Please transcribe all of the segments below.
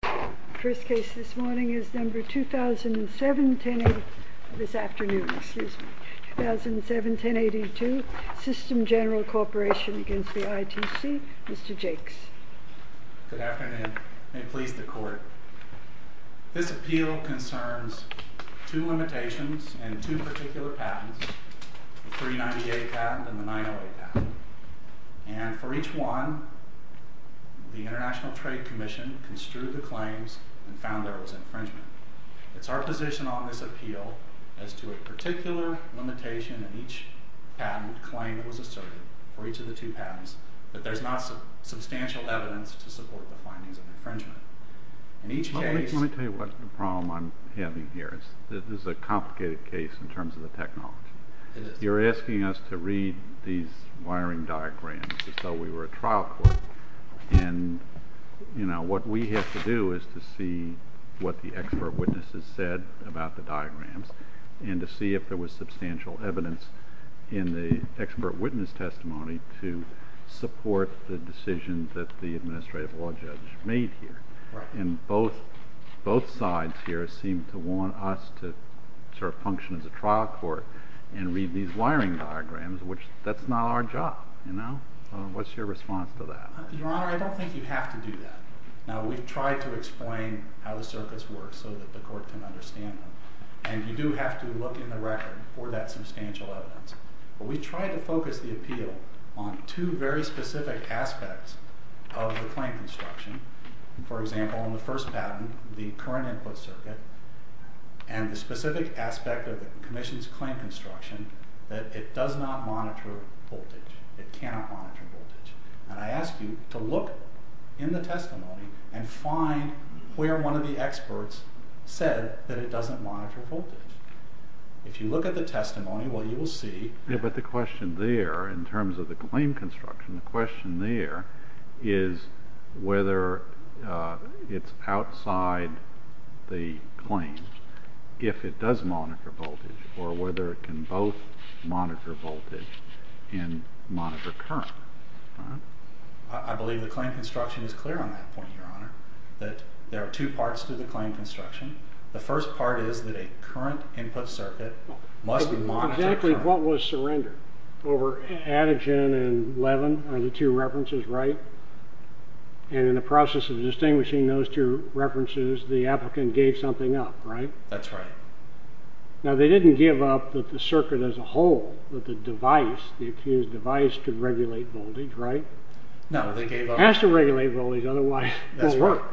The first case this morning is number 2007-1082, System General Corporation v. ITC. Mr. Jakes. Good afternoon. May it please the Court. This appeal concerns two limitations and two particular patents, the 398 patent and the 908 patent. And for each one, the International Trade Commission construed the claims and found there was infringement. It's our position on this appeal as to a particular limitation in each patent claim that was asserted for each of the two patents that there's not substantial evidence to support the findings of infringement. Let me tell you what's the problem I'm having here. This is a complicated case in terms of the technology. You're asking us to read these wiring diagrams as though we were a trial court. And what we have to do is to see what the expert witnesses said about the diagrams and to see if there was substantial evidence in the expert witness testimony to support the decision that the administrative law judge made here. And both sides here seem to want us to function as a trial court and read these wiring diagrams, which that's not our job. What's your response to that? Your Honor, I don't think you have to do that. Now, we've tried to explain how the circuits work so that the Court can understand them. And you do have to look in the record for that substantial evidence. But we tried to focus the appeal on two very specific aspects of the claim construction. For example, in the first patent, the current input circuit, and the specific aspect of the commission's claim construction, that it does not monitor voltage. It cannot monitor voltage. And I ask you to look in the testimony and find where one of the experts said that it doesn't monitor voltage. If you look at the testimony, what you will see... it's outside the claim, if it does monitor voltage, or whether it can both monitor voltage and monitor current. I believe the claim construction is clear on that point, Your Honor, that there are two parts to the claim construction. The first part is that a current input circuit must be monitored. Exactly. What was surrender? Over Atigen and Levin are the two references, right? And in the process of distinguishing those two references, the applicant gave something up, right? That's right. Now, they didn't give up that the circuit as a whole, that the device, the accused device, could regulate voltage, right? No, they gave up... It has to regulate voltage, otherwise it won't work. That's right.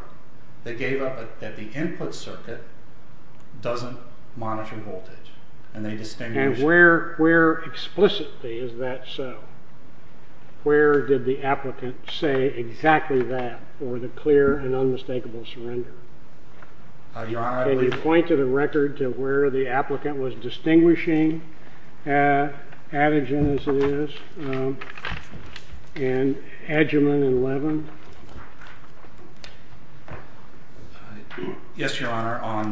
They gave up that the input circuit doesn't monitor voltage. And they distinguished... And where explicitly is that so? Where did the applicant say exactly that for the clear and unmistakable surrender? Your Honor... Can you point to the record to where the applicant was distinguishing Atigen, as it is, and Adjaman and Levin? Yes, Your Honor. On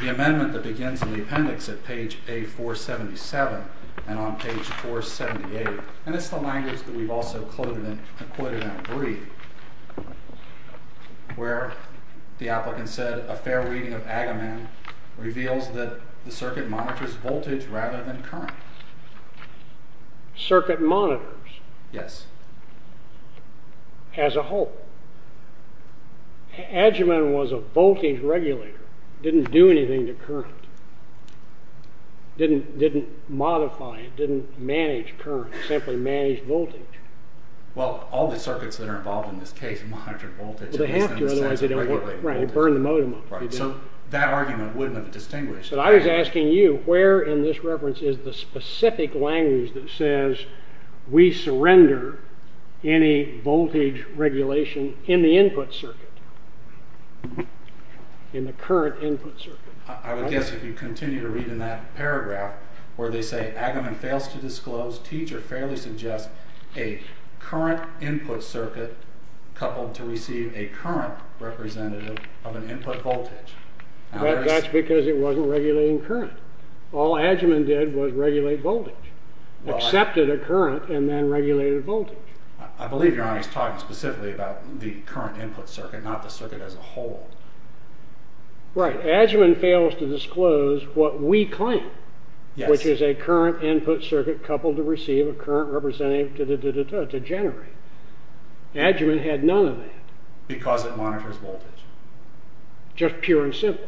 the amendment that begins in the appendix at page A477 and on page 478, and it's the language that we've also quoted and agreed, where the applicant said a fair reading of Adjaman reveals that the circuit monitors voltage rather than current. Circuit monitors? Yes. As a whole. Adjaman was a voltage regulator, didn't do anything to current, didn't modify it, didn't manage current, simply managed voltage. Well, all the circuits that are involved in this case monitor voltage... Well, they have to, otherwise they don't work. Right, they burn the modem up. Right, so that argument wouldn't have distinguished. I was asking you where in this reference is the specific language that says we surrender any voltage regulation in the input circuit, in the current input circuit. I would guess if you continue to read in that paragraph where they say Adjaman fails to disclose, teacher fairly suggests a current input circuit coupled to receive a current representative of an input voltage. That's because it wasn't regulating current. All Adjaman did was regulate voltage. Accepted a current and then regulated voltage. I believe you're talking specifically about the current input circuit, not the circuit as a whole. Right, Adjaman fails to disclose what we claim, which is a current input circuit coupled to receive a current representative to generate. Adjaman had none of that. Because it monitors voltage. Just pure and simple.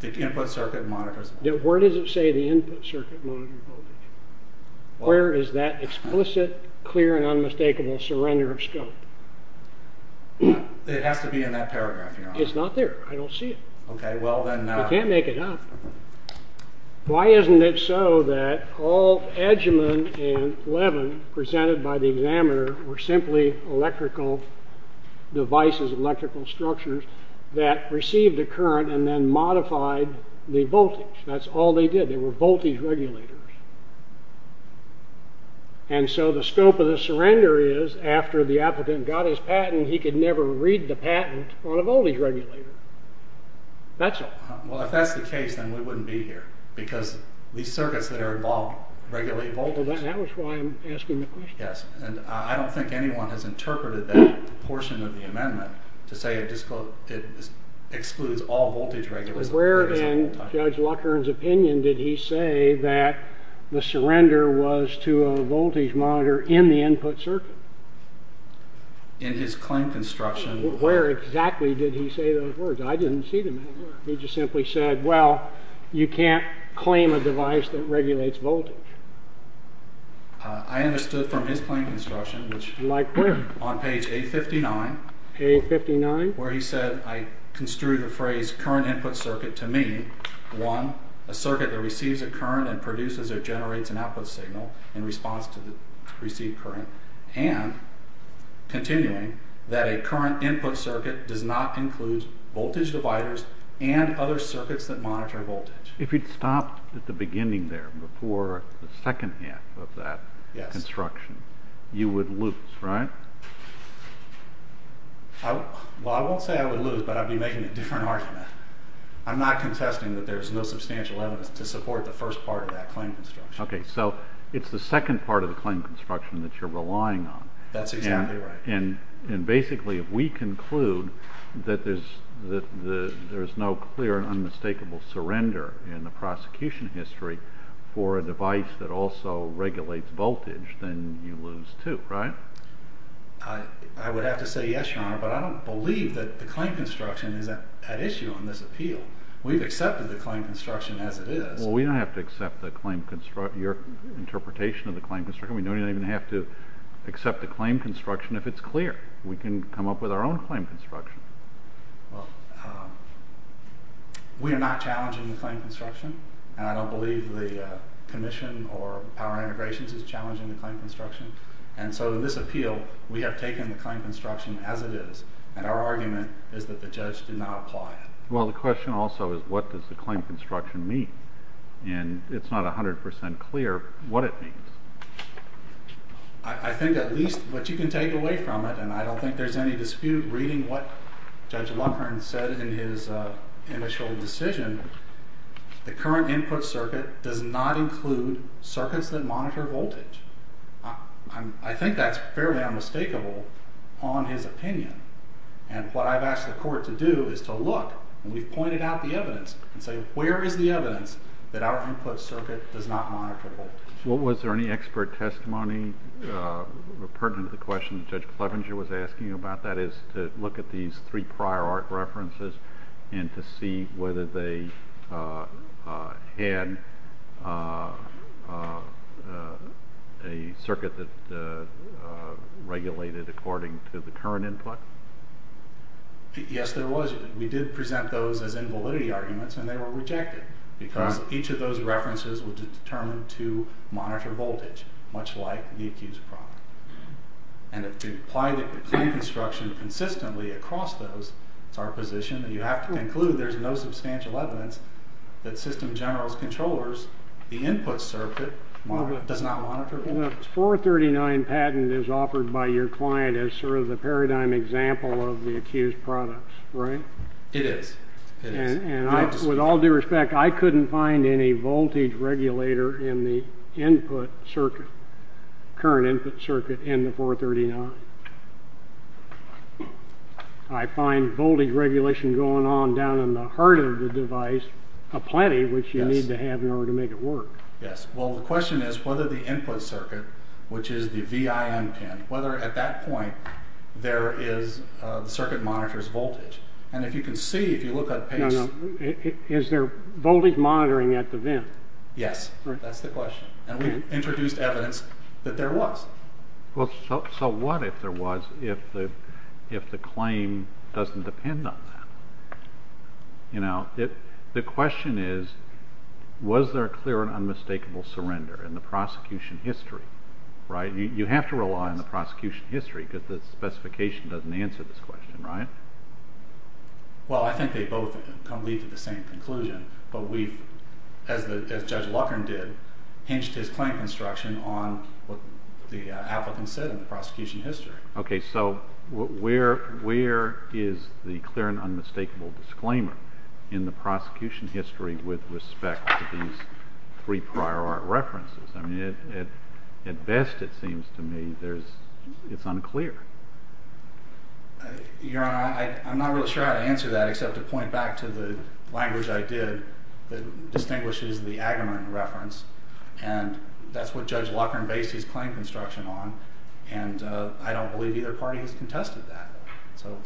The input circuit monitors voltage. Where does it say the input circuit monitors voltage? Where is that explicit, clear, and unmistakable surrender of scope? It has to be in that paragraph, Your Honor. It's not there. I don't see it. Okay, well then... I can't make it up. Why isn't it so that all Adjaman and Levin presented by the examiner were simply electrical devices, electrical structures, that received a current and then modified the voltage? That's all they did. They were voltage regulators. And so the scope of the surrender is, after the applicant got his patent, he could never read the patent on a voltage regulator. That's all. Well, if that's the case, then we wouldn't be here. Because these circuits that are involved regulate voltage. Well, that was why I'm asking the question. Yes, and I don't think anyone has interpreted that portion of the amendment to say it excludes all voltage regulators. But where in Judge Luckern's opinion did he say that the surrender was to a voltage monitor in the input circuit? In his claim construction... Where exactly did he say those words? I didn't see them anywhere. He just simply said, well, you can't claim a device that regulates voltage. I understood from his claim construction, which... Like where? On page 859. 859? Where he said, I construed the phrase, current input circuit, to mean, one, a circuit that receives a current and produces or generates an output signal in response to the received current. And, continuing, that a current input circuit does not include voltage dividers and other circuits that monitor voltage. If you'd stopped at the beginning there, before the second half of that construction, you would lose, right? Well, I won't say I would lose, but I'd be making a different argument. I'm not contesting that there's no substantial evidence to support the first part of that claim construction. Okay, so it's the second part of the claim construction that you're relying on. That's exactly right. And, basically, if we conclude that there's no clear and unmistakable surrender in the prosecution history for a device that also regulates voltage, then you lose too, right? I would have to say yes, Your Honor, but I don't believe that the claim construction is at issue on this appeal. We've accepted the claim construction as it is. Well, we don't have to accept your interpretation of the claim construction. We don't even have to accept the claim construction if it's clear. We can come up with our own claim construction. Well, we are not challenging the claim construction, and I don't believe the Commission or Power Integrations is challenging the claim construction. And so, in this appeal, we have taken the claim construction as it is, and our argument is that the judge did not apply it. Well, the question also is, what does the claim construction mean? And it's not 100% clear what it means. I think, at least, what you can take away from it, and I don't think there's any dispute reading what Judge Lockhart said in his initial decision, the current input circuit does not include circuits that monitor voltage. I think that's fairly unmistakable on his opinion, and what I've asked the Court to do is to look, and we've pointed out the evidence, and say, where is the evidence that our input circuit does not monitor voltage? Well, was there any expert testimony pertinent to the question that Judge Clevenger was asking about? That is, to look at these three prior art references, and to see whether they had a circuit that regulated according to the current input? Yes, there was. We did present those as invalidity arguments, and they were rejected, because each of those references was determined to monitor voltage, much like the accused product. And to apply the claim construction consistently across those, it's our position that you have to conclude there's no substantial evidence that System General's controllers, the input circuit, does not monitor voltage. The 439 patent is offered by your client as sort of the paradigm example of the accused product, right? It is. And with all due respect, I couldn't find any voltage regulator in the input circuit, current input circuit in the 439. I find voltage regulation going on down in the heart of the device, aplenty, which you need to have in order to make it work. Yes. Well, the question is, whether the input circuit, which is the VIN pin, whether at that point there is, the circuit monitors voltage. And if you can see, if you look at the page... No, no. Is there voltage monitoring at the VIN? Yes, that's the question. And we introduced evidence that there was. Well, so what if there was, if the claim doesn't depend on that? You know, the question is, was there a clear and unmistakable surrender in the prosecution history, right? You have to rely on the prosecution history because the specification doesn't answer this question, right? Well, I think they both lead to the same conclusion. But we've, as Judge Luckern did, hinged his claim construction on what the applicant said in the prosecution history. Okay, so where is the clear and unmistakable disclaimer in the prosecution history with respect to these three prior art references? I mean, at best it seems to me it's unclear. Your Honor, I'm not really sure how to answer that except to point back to the language I did that distinguishes the Agamemnon reference. And that's what Judge Luckern based his claim construction on. And I don't believe either party has contested that. So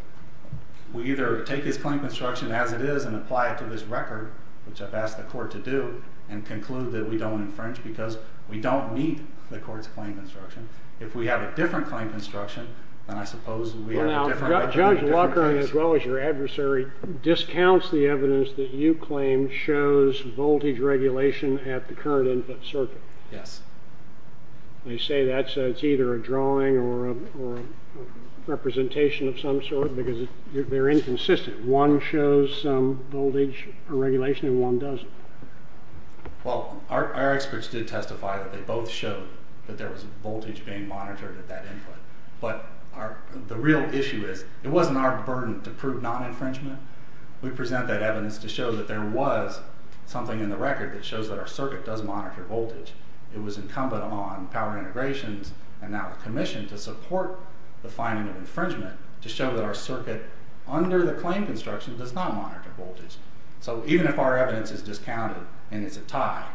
we either take his claim construction as it is and apply it to this record, which I've asked the court to do, and conclude that we don't infringe because we don't meet the court's claim construction. If we have a different claim construction, then I suppose we have a different record. Judge Luckern, as well as your adversary, discounts the evidence that you claim shows voltage regulation at the current input circuit. Yes. They say that's either a drawing or a representation of some sort because they're inconsistent. One shows voltage regulation and one doesn't. Well, our experts did testify that they both showed that there was voltage being monitored at that input. But the real issue is it wasn't our burden to prove non-infringement. We present that evidence to show that there was something in the record that shows that our circuit does monitor voltage. It was incumbent on power integrations and our commission to support the finding of infringement to show that our circuit under the claim construction does not monitor voltage. So even if our evidence is discounted and it's a tie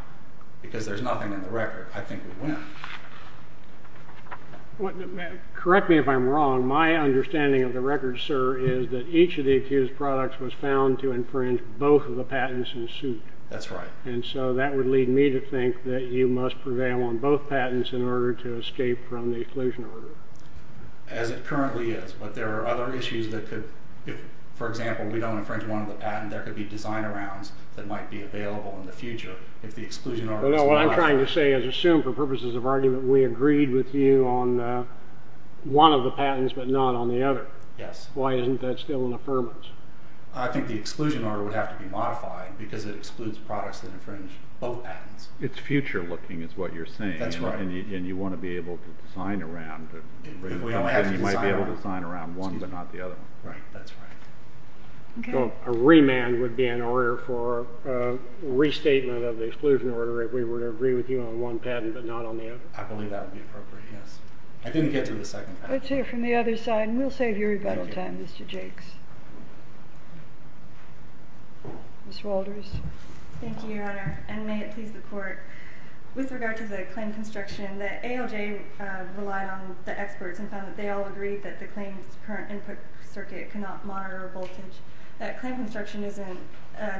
because there's nothing in the record, I think we win. Correct me if I'm wrong. My understanding of the record, sir, is that each of the accused products was found to infringe both of the patents in the suit. That's right. And so that would lead me to think that you must prevail on both patents in order to escape from the exclusion order. As it currently is. But there are other issues that could, for example, if we don't infringe one of the patents, there could be design-arounds that might be available in the future if the exclusion order is not. Well, no, what I'm trying to say is assume for purposes of argument we agreed with you on one of the patents but not on the other. Yes. Why isn't that still an affirmance? I think the exclusion order would have to be modified because it excludes products that infringe both patents. It's future-looking is what you're saying. That's right. And you want to be able to design-around. You might be able to design-around one but not the other. Right. That's right. A remand would be in order for restatement of the exclusion order if we were to agree with you on one patent but not on the other. I believe that would be appropriate, yes. I didn't get to the second patent. Let's hear from the other side, and we'll save you rebuttal time, Mr. Jakes. Thank you, Your Honor. And may it please the Court. With regard to the claim construction, the ALJ relied on the experts and found that they all agreed that the claim's current input circuit cannot monitor a voltage. That claim construction isn't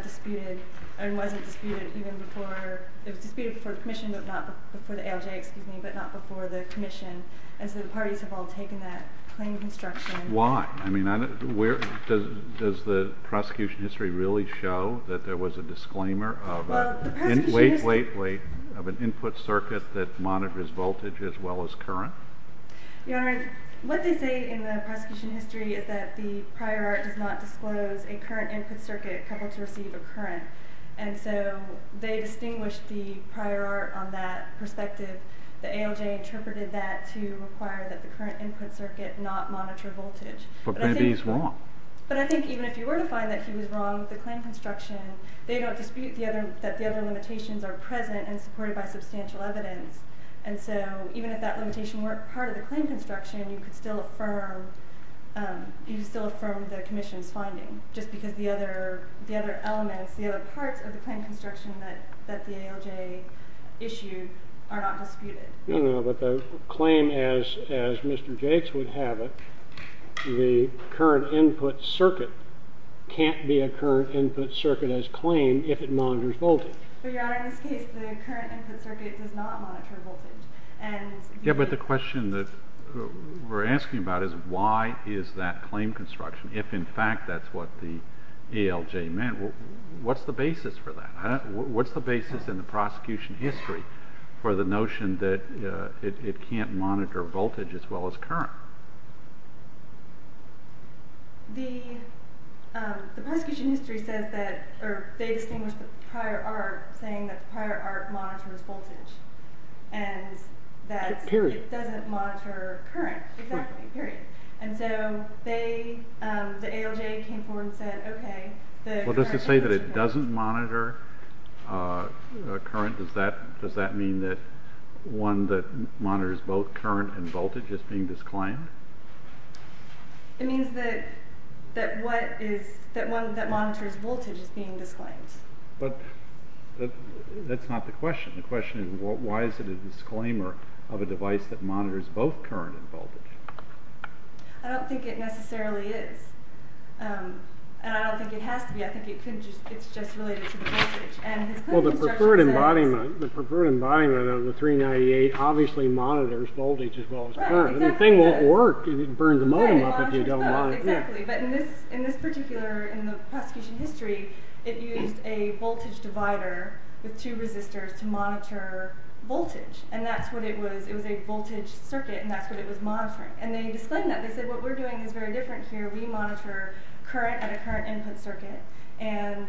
disputed and wasn't disputed even before-it was disputed before the commission but not before the ALJ, excuse me, but not before the commission. And so the parties have all taken that claim construction. Why? I mean, does the prosecution history really show that there was a disclaimer of- Late, late, late, of an input circuit that monitors voltage as well as current? Your Honor, what they say in the prosecution history is that the prior art does not disclose a current input circuit capable to receive a current. And so they distinguished the prior art on that perspective. The ALJ interpreted that to require that the current input circuit not monitor voltage. But maybe he's wrong. But I think even if you were to find that he was wrong with the claim construction, they don't dispute that the other limitations are present and supported by substantial evidence. And so even if that limitation weren't part of the claim construction, you could still affirm the commission's finding just because the other elements, the other parts of the claim construction that the ALJ issued are not disputed. No, no, but the claim as Mr. Jakes would have it, the current input circuit can't be a current input circuit as claimed if it monitors voltage. Your Honor, in this case, the current input circuit does not monitor voltage. Yeah, but the question that we're asking about is why is that claim construction if in fact that's what the ALJ meant? What's the basis for that? What's the basis in the prosecution history for the notion that it can't monitor voltage as well as current? The prosecution history says that, or they distinguished the prior art saying that the prior art monitors voltage. Period. And that it doesn't monitor current, exactly, period. And so they, the ALJ came forward and said, okay, the current input circuit. Well, does it say that it doesn't monitor current? Does that mean that one that monitors both current and voltage is being disclaimed? It means that what is, that one that monitors voltage is being disclaimed. But that's not the question. The question is why is it a disclaimer of a device that monitors both current and voltage? I don't think it necessarily is. And I don't think it has to be. I think it's just related to the voltage. Well, the preferred embodiment of the 398 obviously monitors voltage as well as current. The thing won't work if you burn the modem up if you don't monitor it. Exactly, but in this particular, in the prosecution history, it used a voltage divider with two resistors to monitor voltage. And that's what it was. It was a voltage circuit, and that's what it was monitoring. And they disclaimed that. They said what we're doing is very different here. We monitor current at a current input circuit. And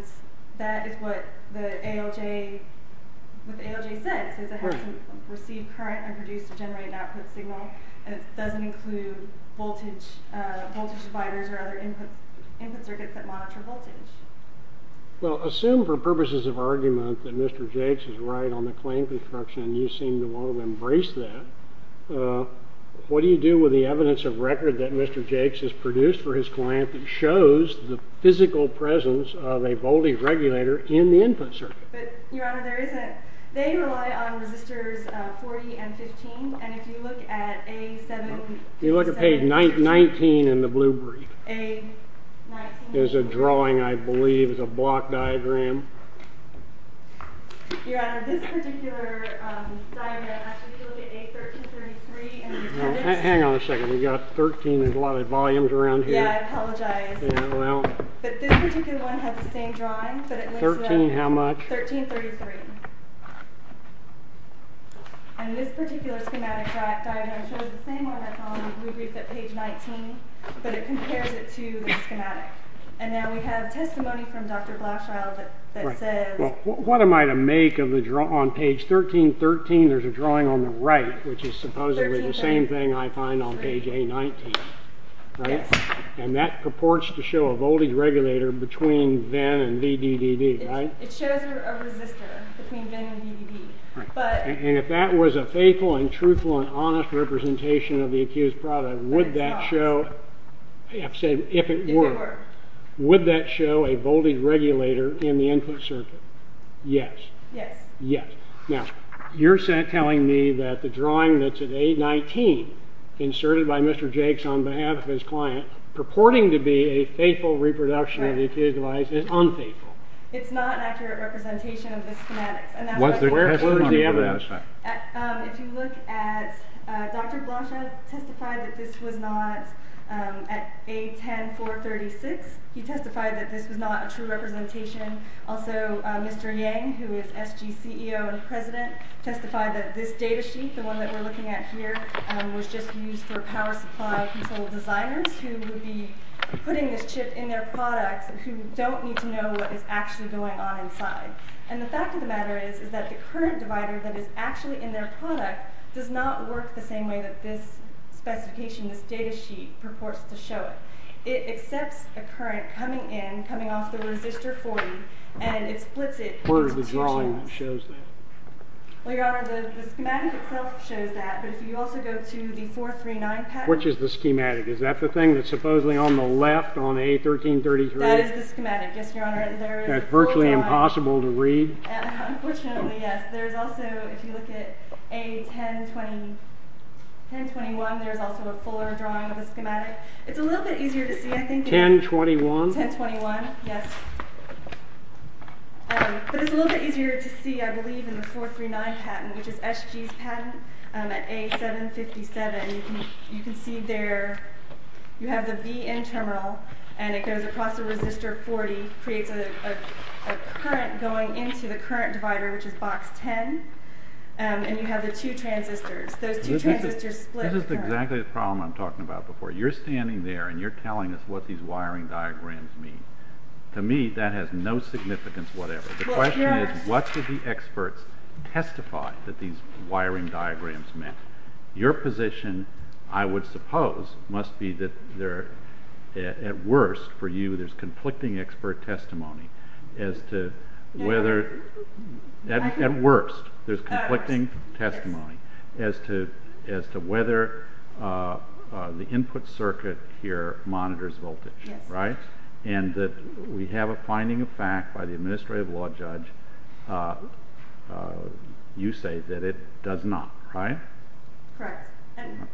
that is what the ALJ, what the ALJ said. It says it has to receive current and produce to generate an output signal. And it doesn't include voltage dividers or other input circuits that monitor voltage. Well, assume for purposes of argument that Mr. Jakes is right on the claim construction, and you seem to want to embrace that. What do you do with the evidence of record that Mr. Jakes has produced for his client that shows the physical presence of a voltage regulator in the input circuit? Your Honor, there isn't. They rely on resistors 40 and 15. And if you look at page 19 in the blue brief, there's a drawing, I believe, it's a block diagram. Your Honor, this particular diagram, if you look at page 1333 in the blue brief. Hang on a second. We've got 13, there's a lot of volumes around here. Yeah, I apologize. Yeah, well. But this particular one has the same drawing, but it looks like. 13 how much? 1333. And this particular schematic diagram shows the same one that's on the blue brief at page 19, but it compares it to the schematic. And now we have testimony from Dr. Blachschild that says. What am I to make of the drawing on page 1313? There's a drawing on the right, which is supposedly the same thing I find on page A19. Yes. And that purports to show a voltage regulator between VIN and VDDD, right? It shows a resistor between VIN and VDDD. And if that was a faithful and truthful and honest representation of the accused product, would that show. I have to say, if it were. If it were. Would that show a voltage regulator in the input circuit? Yes. Yes. Yes. Now, you're telling me that the drawing that's at A19, inserted by Mr. Jakes on behalf of his client, purporting to be a faithful reproduction of the accused device is unfaithful. It's not an accurate representation of the schematics. And that's what the testers are talking about. If you look at, Dr. Blachschild testified that this was not, at A10436, he testified that this was not a true representation. Also, Mr. Yang, who is SG's CEO and president, testified that this data sheet, the one that we're looking at here, was just used for power supply control designers, who would be putting this chip in their product, who don't need to know what is actually going on inside. And the fact of the matter is, is that the current divider that is actually in their product does not work the same way that this specification, this data sheet, purports to show it. It accepts a current coming in, coming off the resistor 40, and it splits it. Where does the drawing that shows that? Well, Your Honor, the schematic itself shows that. But if you also go to the 439 package. Which is the schematic? Is that the thing that's supposedly on the left on A1333? That is the schematic, yes, Your Honor. That's virtually impossible to read? Unfortunately, yes. There's also, if you look at A1021, there's also a fuller drawing of the schematic. It's a little bit easier to see, I think. 1021? 1021, yes. But it's a little bit easier to see, I believe, in the 439 patent, which is SG's patent at A757. You can see there, you have the VIN terminal, and it goes across the resistor 40, creates a current going into the current divider, which is box 10. And you have the two transistors. Those two transistors split. This is exactly the problem I'm talking about before. You're standing there, and you're telling us what these wiring diagrams mean. To me, that has no significance whatever. The question is, what do the experts testify that these wiring diagrams mean? Your position, I would suppose, must be that at worst, for you, there's conflicting expert testimony as to whether the input circuit here monitors voltage. And that we have a finding of fact by the administrative law judge. You say that it does not, right? Correct.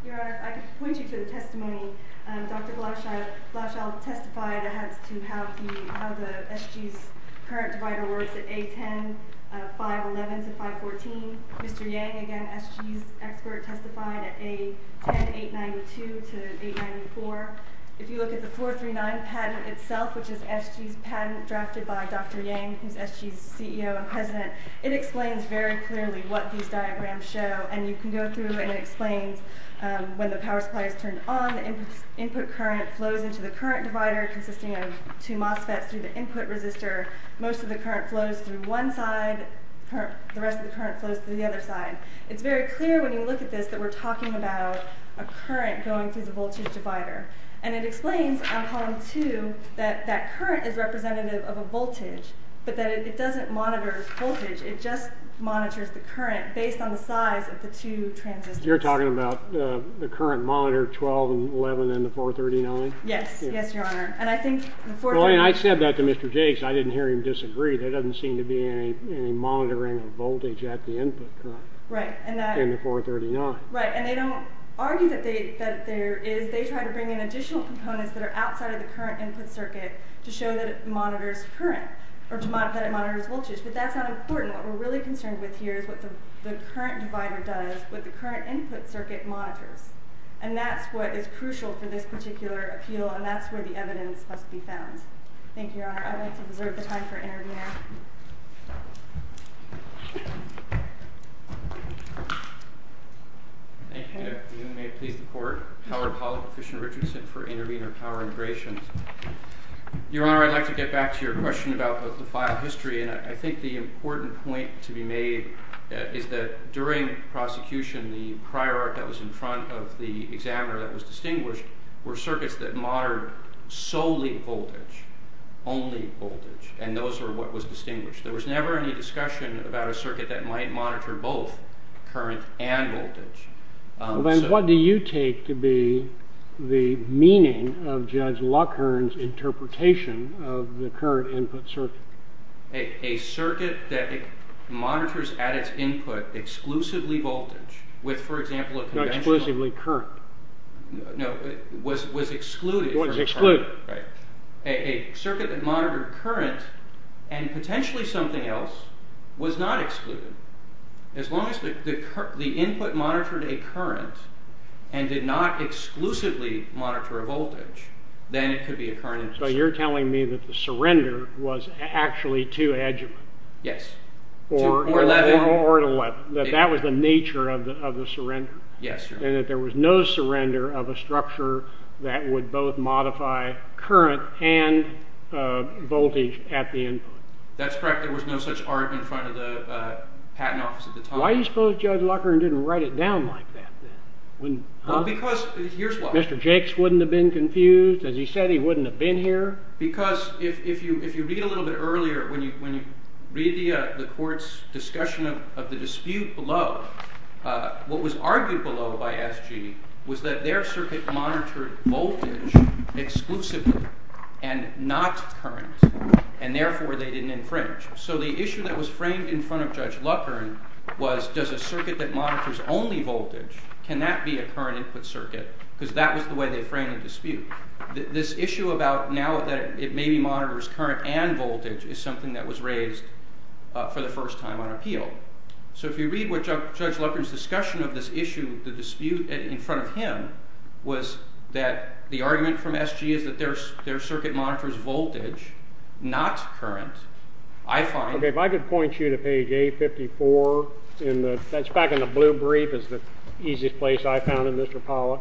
Your Honor, I can point you to the testimony. Dr. Glauchel testified as to how the SG's current divider works at A10, 511 to 514. Mr. Yang, again, SG's expert, testified at A10, 892 to 894. If you look at the 439 patent itself, which is SG's patent drafted by Dr. Yang, who's SG's CEO and president, it explains very clearly what these diagrams show. And you can go through, and it explains when the power supply is turned on, the input current flows into the current divider consisting of two MOSFETs through the input resistor. Most of the current flows through one side. The rest of the current flows through the other side. It's very clear when you look at this that we're talking about a current going through the voltage divider. And it explains on column 2 that that current is representative of a voltage, but that it doesn't monitor voltage. It just monitors the current based on the size of the two transistors. You're talking about the current monitor 12 and 11 in the 439? Yes. Yes, Your Honor. And I think the 439— Well, and I said that to Mr. Jakes. I didn't hear him disagree. There doesn't seem to be any monitoring of voltage at the input current in the 439. Right, and they don't argue that there is. They try to bring in additional components that are outside of the current input circuit to show that it monitors current, or that it monitors voltage. But that's not important. What we're really concerned with here is what the current divider does, what the current input circuit monitors. And that's what is crucial for this particular appeal, and that's where the evidence must be found. Thank you, Your Honor. I'd like to reserve the time for interview now. Thank you. May it please the Court. Howard Pollack, Fish and Richardson for Intervenor Power Integrations. Your Honor, I'd like to get back to your question about the file history. And I think the important point to be made is that during prosecution, the prior art that was in front of the examiner that was distinguished were circuits that monitored solely voltage, only voltage. And those were what was distinguished. There was never any discussion about a circuit that might monitor both current and voltage. Then what do you take to be the meaning of Judge Lockhearn's interpretation of the current input circuit? A circuit that monitors at its input exclusively voltage with, for example, a conventional... Not exclusively current. No, it was excluded. It was excluded. A circuit that monitored current and potentially something else was not excluded. As long as the input monitored a current and did not exclusively monitor a voltage, then it could be a current input circuit. So you're telling me that the surrender was actually too adjuvant. Yes. Or an 11. That that was the nature of the surrender. Yes. And that there was no surrender of a structure that would both modify current and voltage at the input. That's correct. There was no such art in front of the patent office at the time. Why do you suppose Judge Lockhearn didn't write it down like that then? Because here's why. Mr. Jakes wouldn't have been confused. As he said, he wouldn't have been here. Because if you read a little bit earlier, when you read the court's discussion of the dispute below, what was argued below by SG was that their circuit monitored voltage exclusively and not current, and therefore they didn't infringe. So the issue that was framed in front of Judge Lockhearn was, does a circuit that monitors only voltage, can that be a current input circuit? Because that was the way they framed the dispute. This issue about now that it maybe monitors current and voltage is something that was raised for the first time on appeal. So if you read Judge Lockhearn's discussion of this issue, the dispute in front of him, was that the argument from SG is that their circuit monitors voltage, not current. I find— Okay, if I could point you to page 854. That's back in the blue brief. It's the easiest place I found in this, Rapala.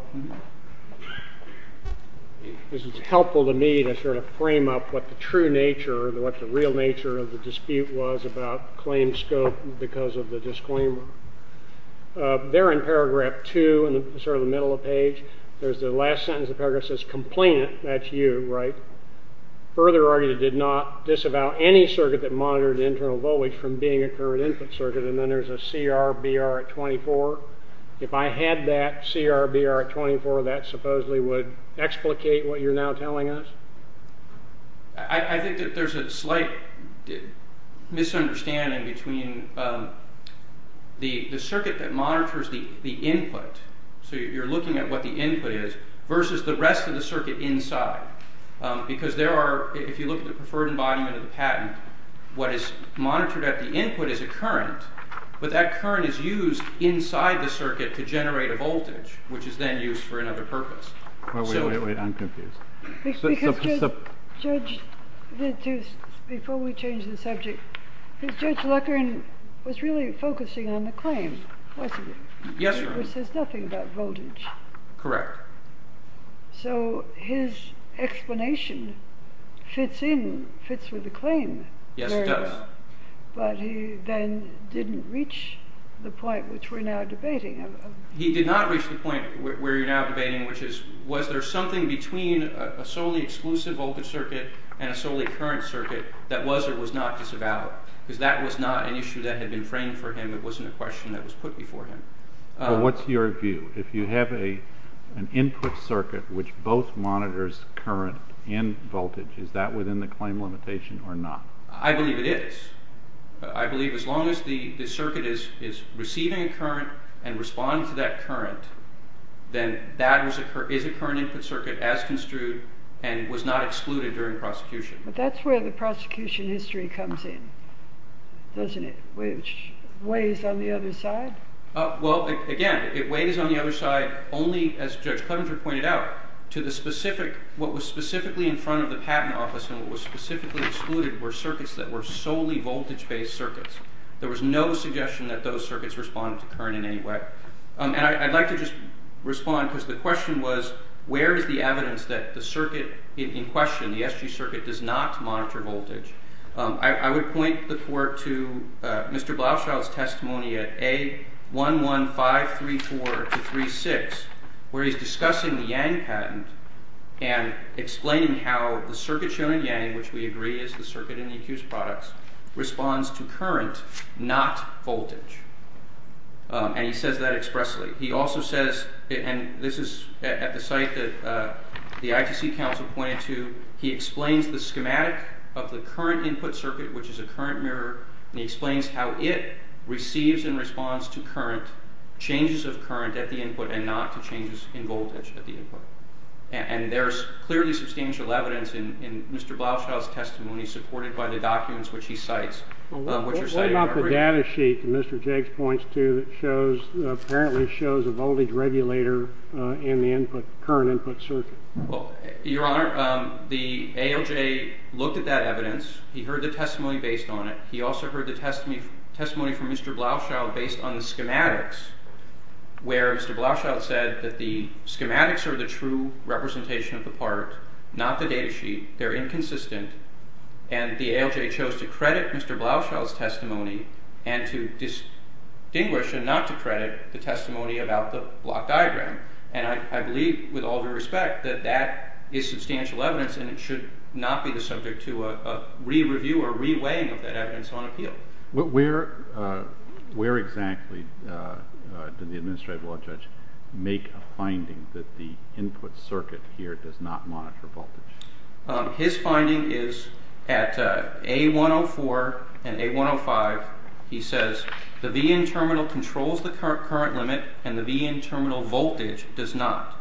This is helpful to me to sort of frame up what the true nature, what the real nature of the dispute was about claim scope because of the disclaimer. There in paragraph two, in sort of the middle of the page, there's the last sentence of the paragraph that says, Complainant, that's you, right, further argued it did not disavow any circuit that monitored internal voltage from being a current input circuit. And then there's a CRBR at 24. If I had that CRBR at 24, that supposedly would explicate what you're now telling us? I think that there's a slight misunderstanding between the circuit that monitors the input, so you're looking at what the input is, versus the rest of the circuit inside. Because there are, if you look at the preferred embodiment of the patent, what is monitored at the input is a current, but that current is used inside the circuit to generate a voltage, which is then used for another purpose. Wait, wait, wait, I'm confused. Because Judge, before we change the subject, Judge Leckron was really focusing on the claim, wasn't he? Yes, Your Honor. Which says nothing about voltage. Correct. So his explanation fits in, fits with the claim. Yes, it does. But he then didn't reach the point which we're now debating. He did not reach the point where you're now debating, which is was there something between a solely exclusive voltage circuit and a solely current circuit that was or was not disavowed? Because that was not an issue that had been framed for him. It wasn't a question that was put before him. Well, what's your view? If you have an input circuit which both monitors current and voltage, is that within the claim limitation or not? I believe it is. I believe as long as the circuit is receiving a current and responding to that current, then that is a current input circuit as construed and was not excluded during prosecution. But that's where the prosecution history comes in, doesn't it? Which weighs on the other side? Well, again, it weighs on the other side only, as Judge Coventry pointed out, to the specific, what was specifically in front of the patent office and what was specifically excluded were circuits that were solely voltage-based circuits. There was no suggestion that those circuits responded to current in any way. And I'd like to just respond because the question was, where is the evidence that the circuit in question, the SG circuit, does not monitor voltage? I would point the court to Mr. Blauschild's testimony at A11534-36, where he's discussing the Yang patent and explaining how the circuit shown in Yang, which we agree is the circuit in the accused products, responds to current, not voltage. And he says that expressly. He also says, and this is at the site that the ITC counsel pointed to, he explains the schematic of the current input circuit, which is a current mirror, and he explains how it receives and responds to changes of current at the input and not to changes in voltage at the input. And there's clearly substantial evidence in Mr. Blauschild's testimony supported by the documents which he cites. What about the data sheet that Mr. Jiggs points to that apparently shows a voltage regulator in the current input circuit? Your Honor, the ALJ looked at that evidence. He heard the testimony based on it. He also heard the testimony from Mr. Blauschild based on the schematics, where Mr. Blauschild said that the schematics are the true representation of the part, not the data sheet. They're inconsistent. And the ALJ chose to credit Mr. Blauschild's testimony and to distinguish and not to credit the testimony about the block diagram. And I believe, with all due respect, that that is substantial evidence and it should not be the subject to a re-review or re-weighing of that evidence on appeal. Where exactly did the administrative law judge make a finding that the input circuit here does not monitor voltage? His finding is at A104 and A105. He says the VIN terminal controls the current limit and the VIN terminal voltage does not.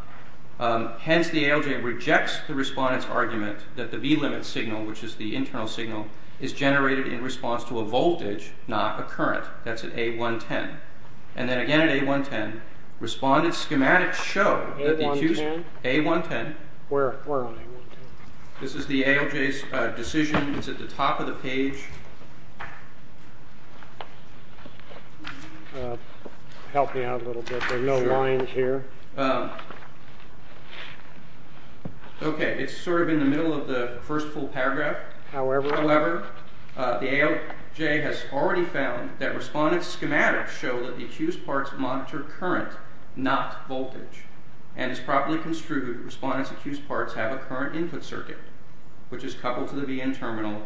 Hence, the ALJ rejects the respondent's argument that the V limit signal, which is the internal signal, is generated in response to a voltage, not a current. That's at A110. And then again at A110, respondent's schematics show A110. Where on A110? This is the ALJ's decision. It's at the top of the page. Help me out a little bit. There are no lines here. Okay. It's sort of in the middle of the first full paragraph. However, the ALJ has already found that respondent's schematics show that the accused parts monitor current, not voltage. And as properly construed, respondent's accused parts have a current input circuit, which is coupled to the VIN terminal.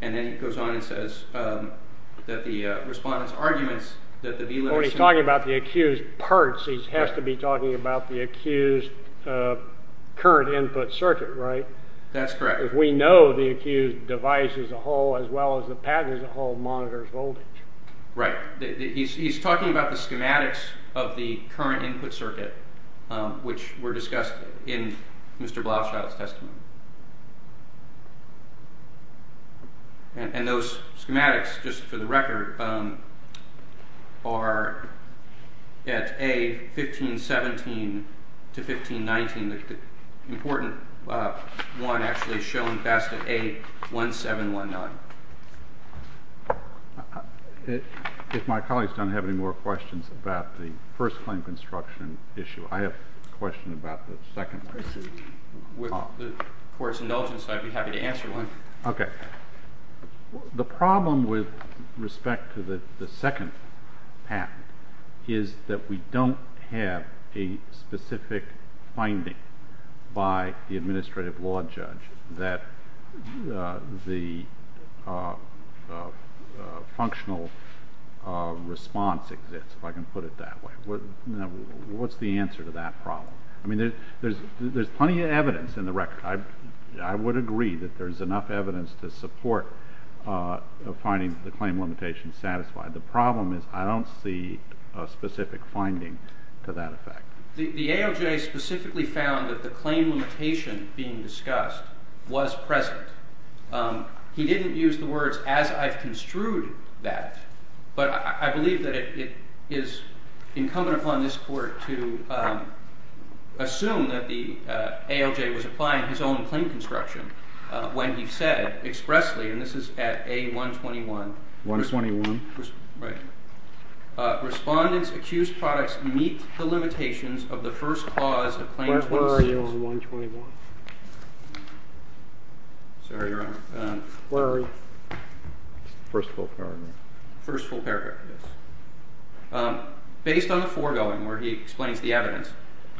And then he goes on and says that the respondent's arguments that the V limit signal… When he's talking about the accused parts, he has to be talking about the accused current input circuit, right? That's correct. If we know the accused device as a whole, as well as the patent as a whole, monitors voltage. Right. He's talking about the schematics of the current input circuit, which were discussed in Mr. Blaufschild's testimony. And those schematics, just for the record, are at A1517 to A1519. And the important one actually is shown best at A1719. If my colleagues don't have any more questions about the first claim construction issue, I have a question about the second one. With the Court's indulgence, I'd be happy to answer one. Okay. The problem with respect to the second patent is that we don't have a specific finding by the administrative law judge that the functional response exists, if I can put it that way. What's the answer to that problem? I mean, there's plenty of evidence in the record. I would agree that there's enough evidence to support finding the claim limitation satisfied. The problem is I don't see a specific finding to that effect. The ALJ specifically found that the claim limitation being discussed was present. He didn't use the words, as I've construed that. But I believe that it is incumbent upon this Court to assume that the ALJ was applying his own claim construction when he said expressly, and this is at A121. A121? Right. Respondents accused products meet the limitations of the first clause of Claim 26. Where are you on A121? Sorry, Your Honor. Where are you? First full paragraph. First full paragraph, yes. Based on the foregoing where he explains the evidence,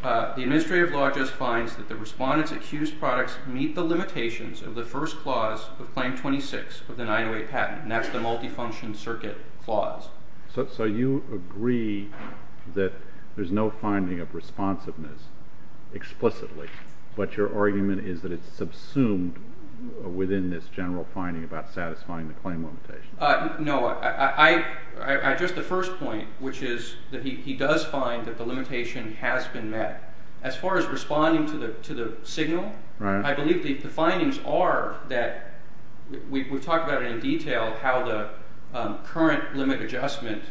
the administrative law judge finds that the respondents accused products meet the limitations of the first clause of Claim 26 of the 908 patent, and that's the multifunction circuit clause. So you agree that there's no finding of responsiveness explicitly, but your argument is that it's subsumed within this general finding about satisfying the claim limitation. No. Just the first point, which is that he does find that the limitation has been met. As far as responding to the signal, I believe the findings are that we've talked about it in detail, how the current limit adjustment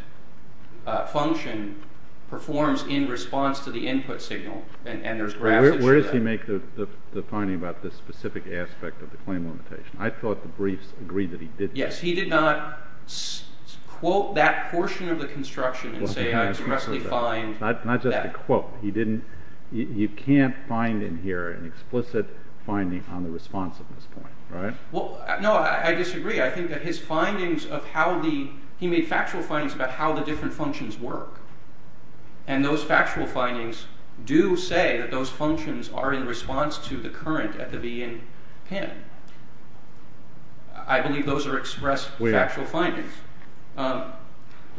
function performs in response to the input signal, and there's graphs that show that. Where does he make the finding about this specific aspect of the claim limitation? I thought the briefs agreed that he did not. Yes, he did not quote that portion of the construction and say I expressly find that. Not just a quote. You can't find in here an explicit finding on the responsiveness point, right? No, I disagree. I think that his findings of how the, he made factual findings about how the different functions work, and those factual findings do say that those functions are in response to the current at the VIN pin. I believe those are expressed factual findings.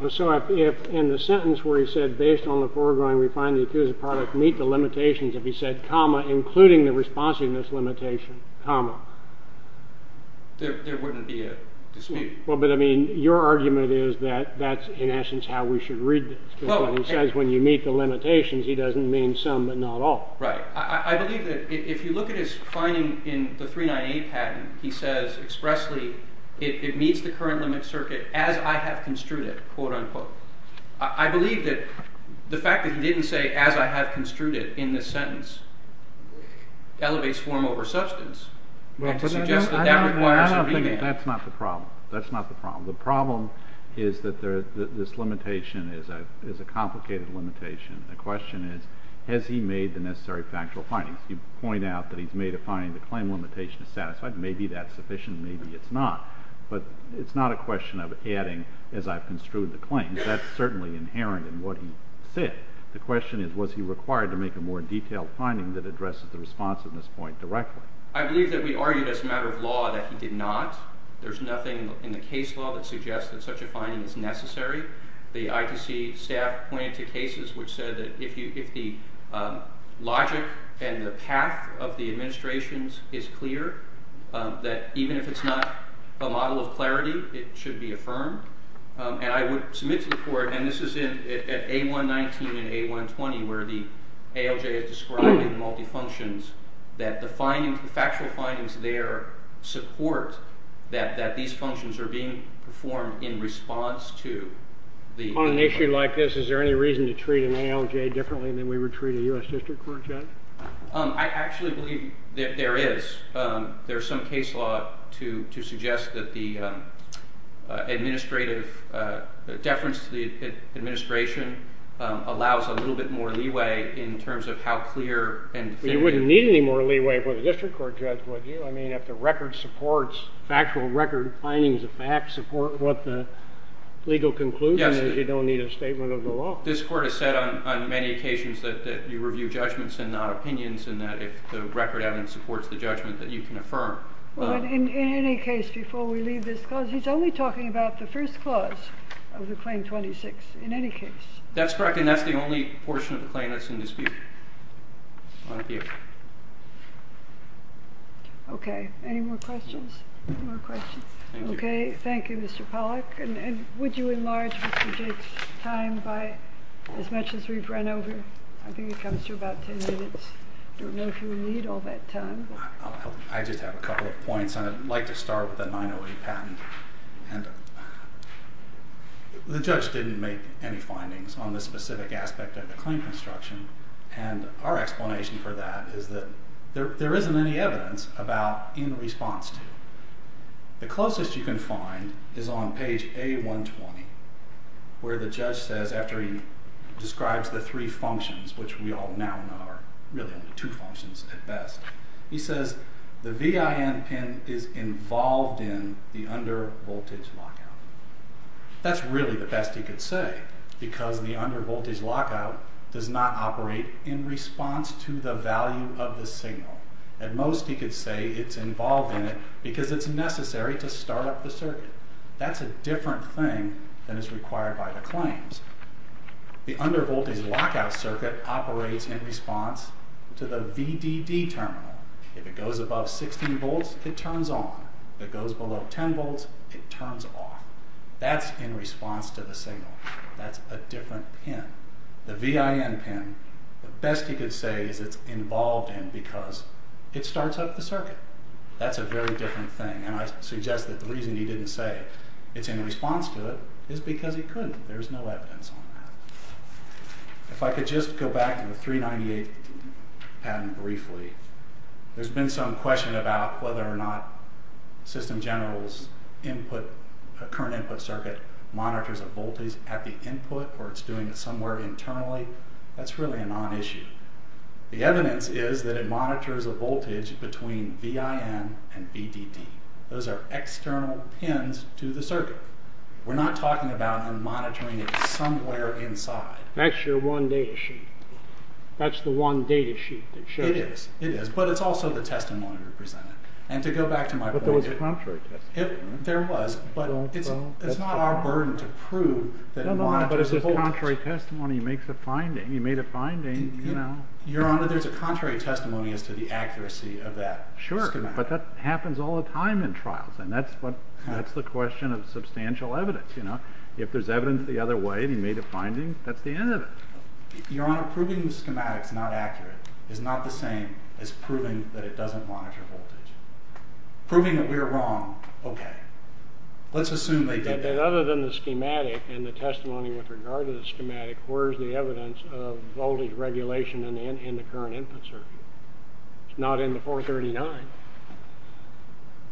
So if in the sentence where he said, based on the foregoing we find the accused product meet the limitations, if he said comma, including the responsiveness limitation, comma. There wouldn't be a dispute. Well, but I mean your argument is that that's in essence how we should read this. He says when you meet the limitations he doesn't mean some but not all. Right. I believe that if you look at his finding in the 398 patent, he says expressly it meets the current limit circuit as I have construed it, quote unquote. I believe that the fact that he didn't say as I have construed it in this sentence elevates form over substance. I don't think that's not the problem. That's not the problem. The problem is that this limitation is a complicated limitation. The question is has he made the necessary factual findings? You point out that he's made a finding the claim limitation is satisfied. Maybe that's sufficient, maybe it's not. But it's not a question of adding as I've construed the claims. That's certainly inherent in what he said. The question is was he required to make a more detailed finding that addresses the responsiveness point directly. I believe that we argued as a matter of law that he did not. There's nothing in the case law that suggests that such a finding is necessary. The ITC staff pointed to cases which said that if the logic and the path of the administrations is clear that even if it's not a model of clarity it should be affirmed. And I would submit to the court, and this is in A119 and A120 where the ALJ is described in multifunctions that the factual findings there support that these functions are being performed in response to the... On an issue like this is there any reason to treat an ALJ differently than we would treat a U.S. District Court judge? I actually believe that there is. There's some case law to suggest that the administrative deference to the administration allows a little bit more leeway in terms of how clear and definitive... You wouldn't need any more leeway for the District Court judge, would you? I mean, if the record supports, factual record findings of facts support what the legal conclusion is you don't need a statement of the law. This court has said on many occasions that you review judgments and not opinions and that if the record evidence supports the judgment that you can affirm. In any case, before we leave this clause, he's only talking about the first clause of the Claim 26, in any case. That's correct, and that's the only portion of the claim that's in dispute. Okay, any more questions? Okay, thank you, Mr. Pollack. And would you enlarge Mr. Jake's time by as much as we've run over? I think it comes to about 10 minutes. I don't know if you would need all that time. I just have a couple of points and I'd like to start with the 908 patent. The judge didn't make any findings on the specific aspect of the claim construction and our explanation for that is that there isn't any evidence about in response to. The closest you can find is on page A120 where the judge says, after he describes the three functions, which we all now know are really only two functions at best, he says the VIN pin is involved in the undervoltage lockout. That's really the best he could say because the undervoltage lockout does not operate in response to the value of the signal. At most, he could say it's involved in it because it's necessary to start up the circuit. That's a different thing than is required by the claims. The undervoltage lockout circuit operates in response to the VDD terminal. If it goes above 16 volts, it turns on. If it goes below 10 volts, it turns off. That's in response to the signal. That's a different pin. The VIN pin, the best he could say is it's involved in because it starts up the circuit. That's a very different thing and I suggest that the reason he didn't say it's in response to it is because he couldn't. There's no evidence on that. If I could just go back to the 398 patent briefly, there's been some question about whether or not System General's current input circuit monitors a voltage at the input or it's doing it somewhere internally. That's really a non-issue. The evidence is that it monitors a voltage between VIN and VDD. Those are external pins to the circuit. We're not talking about monitoring it somewhere inside. That's your one data sheet. That's the one data sheet. It is, but it's also the testimony represented. To go back to my point... But there was a contrary testimony. There was, but it's not our burden to prove that it monitors a voltage. But if there's a contrary testimony, he makes a finding. He made a finding. Your Honor, there's a contrary testimony as to the accuracy of that schematic. Sure, but that happens all the time in trials and that's the question of substantial evidence. If there's evidence the other way and he made a finding, that's the end of it. Your Honor, proving the schematic is not accurate is not the same as proving that it doesn't monitor voltage. Proving that we're wrong, okay. Let's assume they did that. Other than the schematic and the testimony with regard to the schematic, where's the evidence of voltage regulation in the current input circuit? It's not in the 439.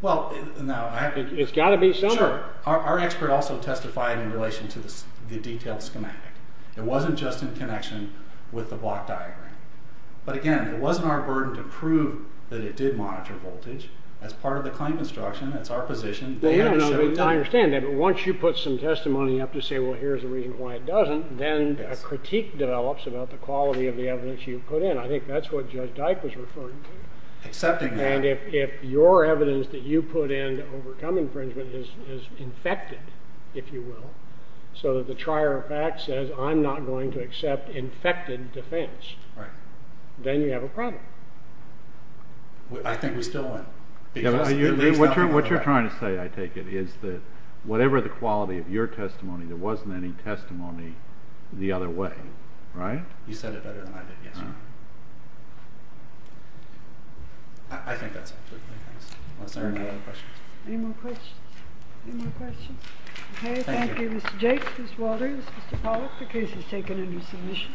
Well, now... It's got to be somewhere. Sure. Our expert also testified in relation to the detailed schematic. It wasn't just in connection with the block diagram. But again, it wasn't our burden to prove that it did monitor voltage. That's part of the claim instruction. That's our position. I understand that. But once you put some testimony up to say, well, here's the reason why it doesn't, then a critique develops about the quality of the evidence you put in. I think that's what Judge Dyke was referring to. Accepting that. And if your evidence that you put in to overcome infringement is infected, if you will, so that the trier of facts says, I'm not going to accept infected defense, then you have a problem. I think we still win. What you're trying to say, I take it, is that whatever the quality of your testimony, there wasn't any testimony the other way. Right? You said it better than I did yesterday. I think that's it. Are there any more questions? Any more questions? Okay, thank you. Mr. Jakes, Mr. Walters, Mr. Pollack, the case is taken under submission.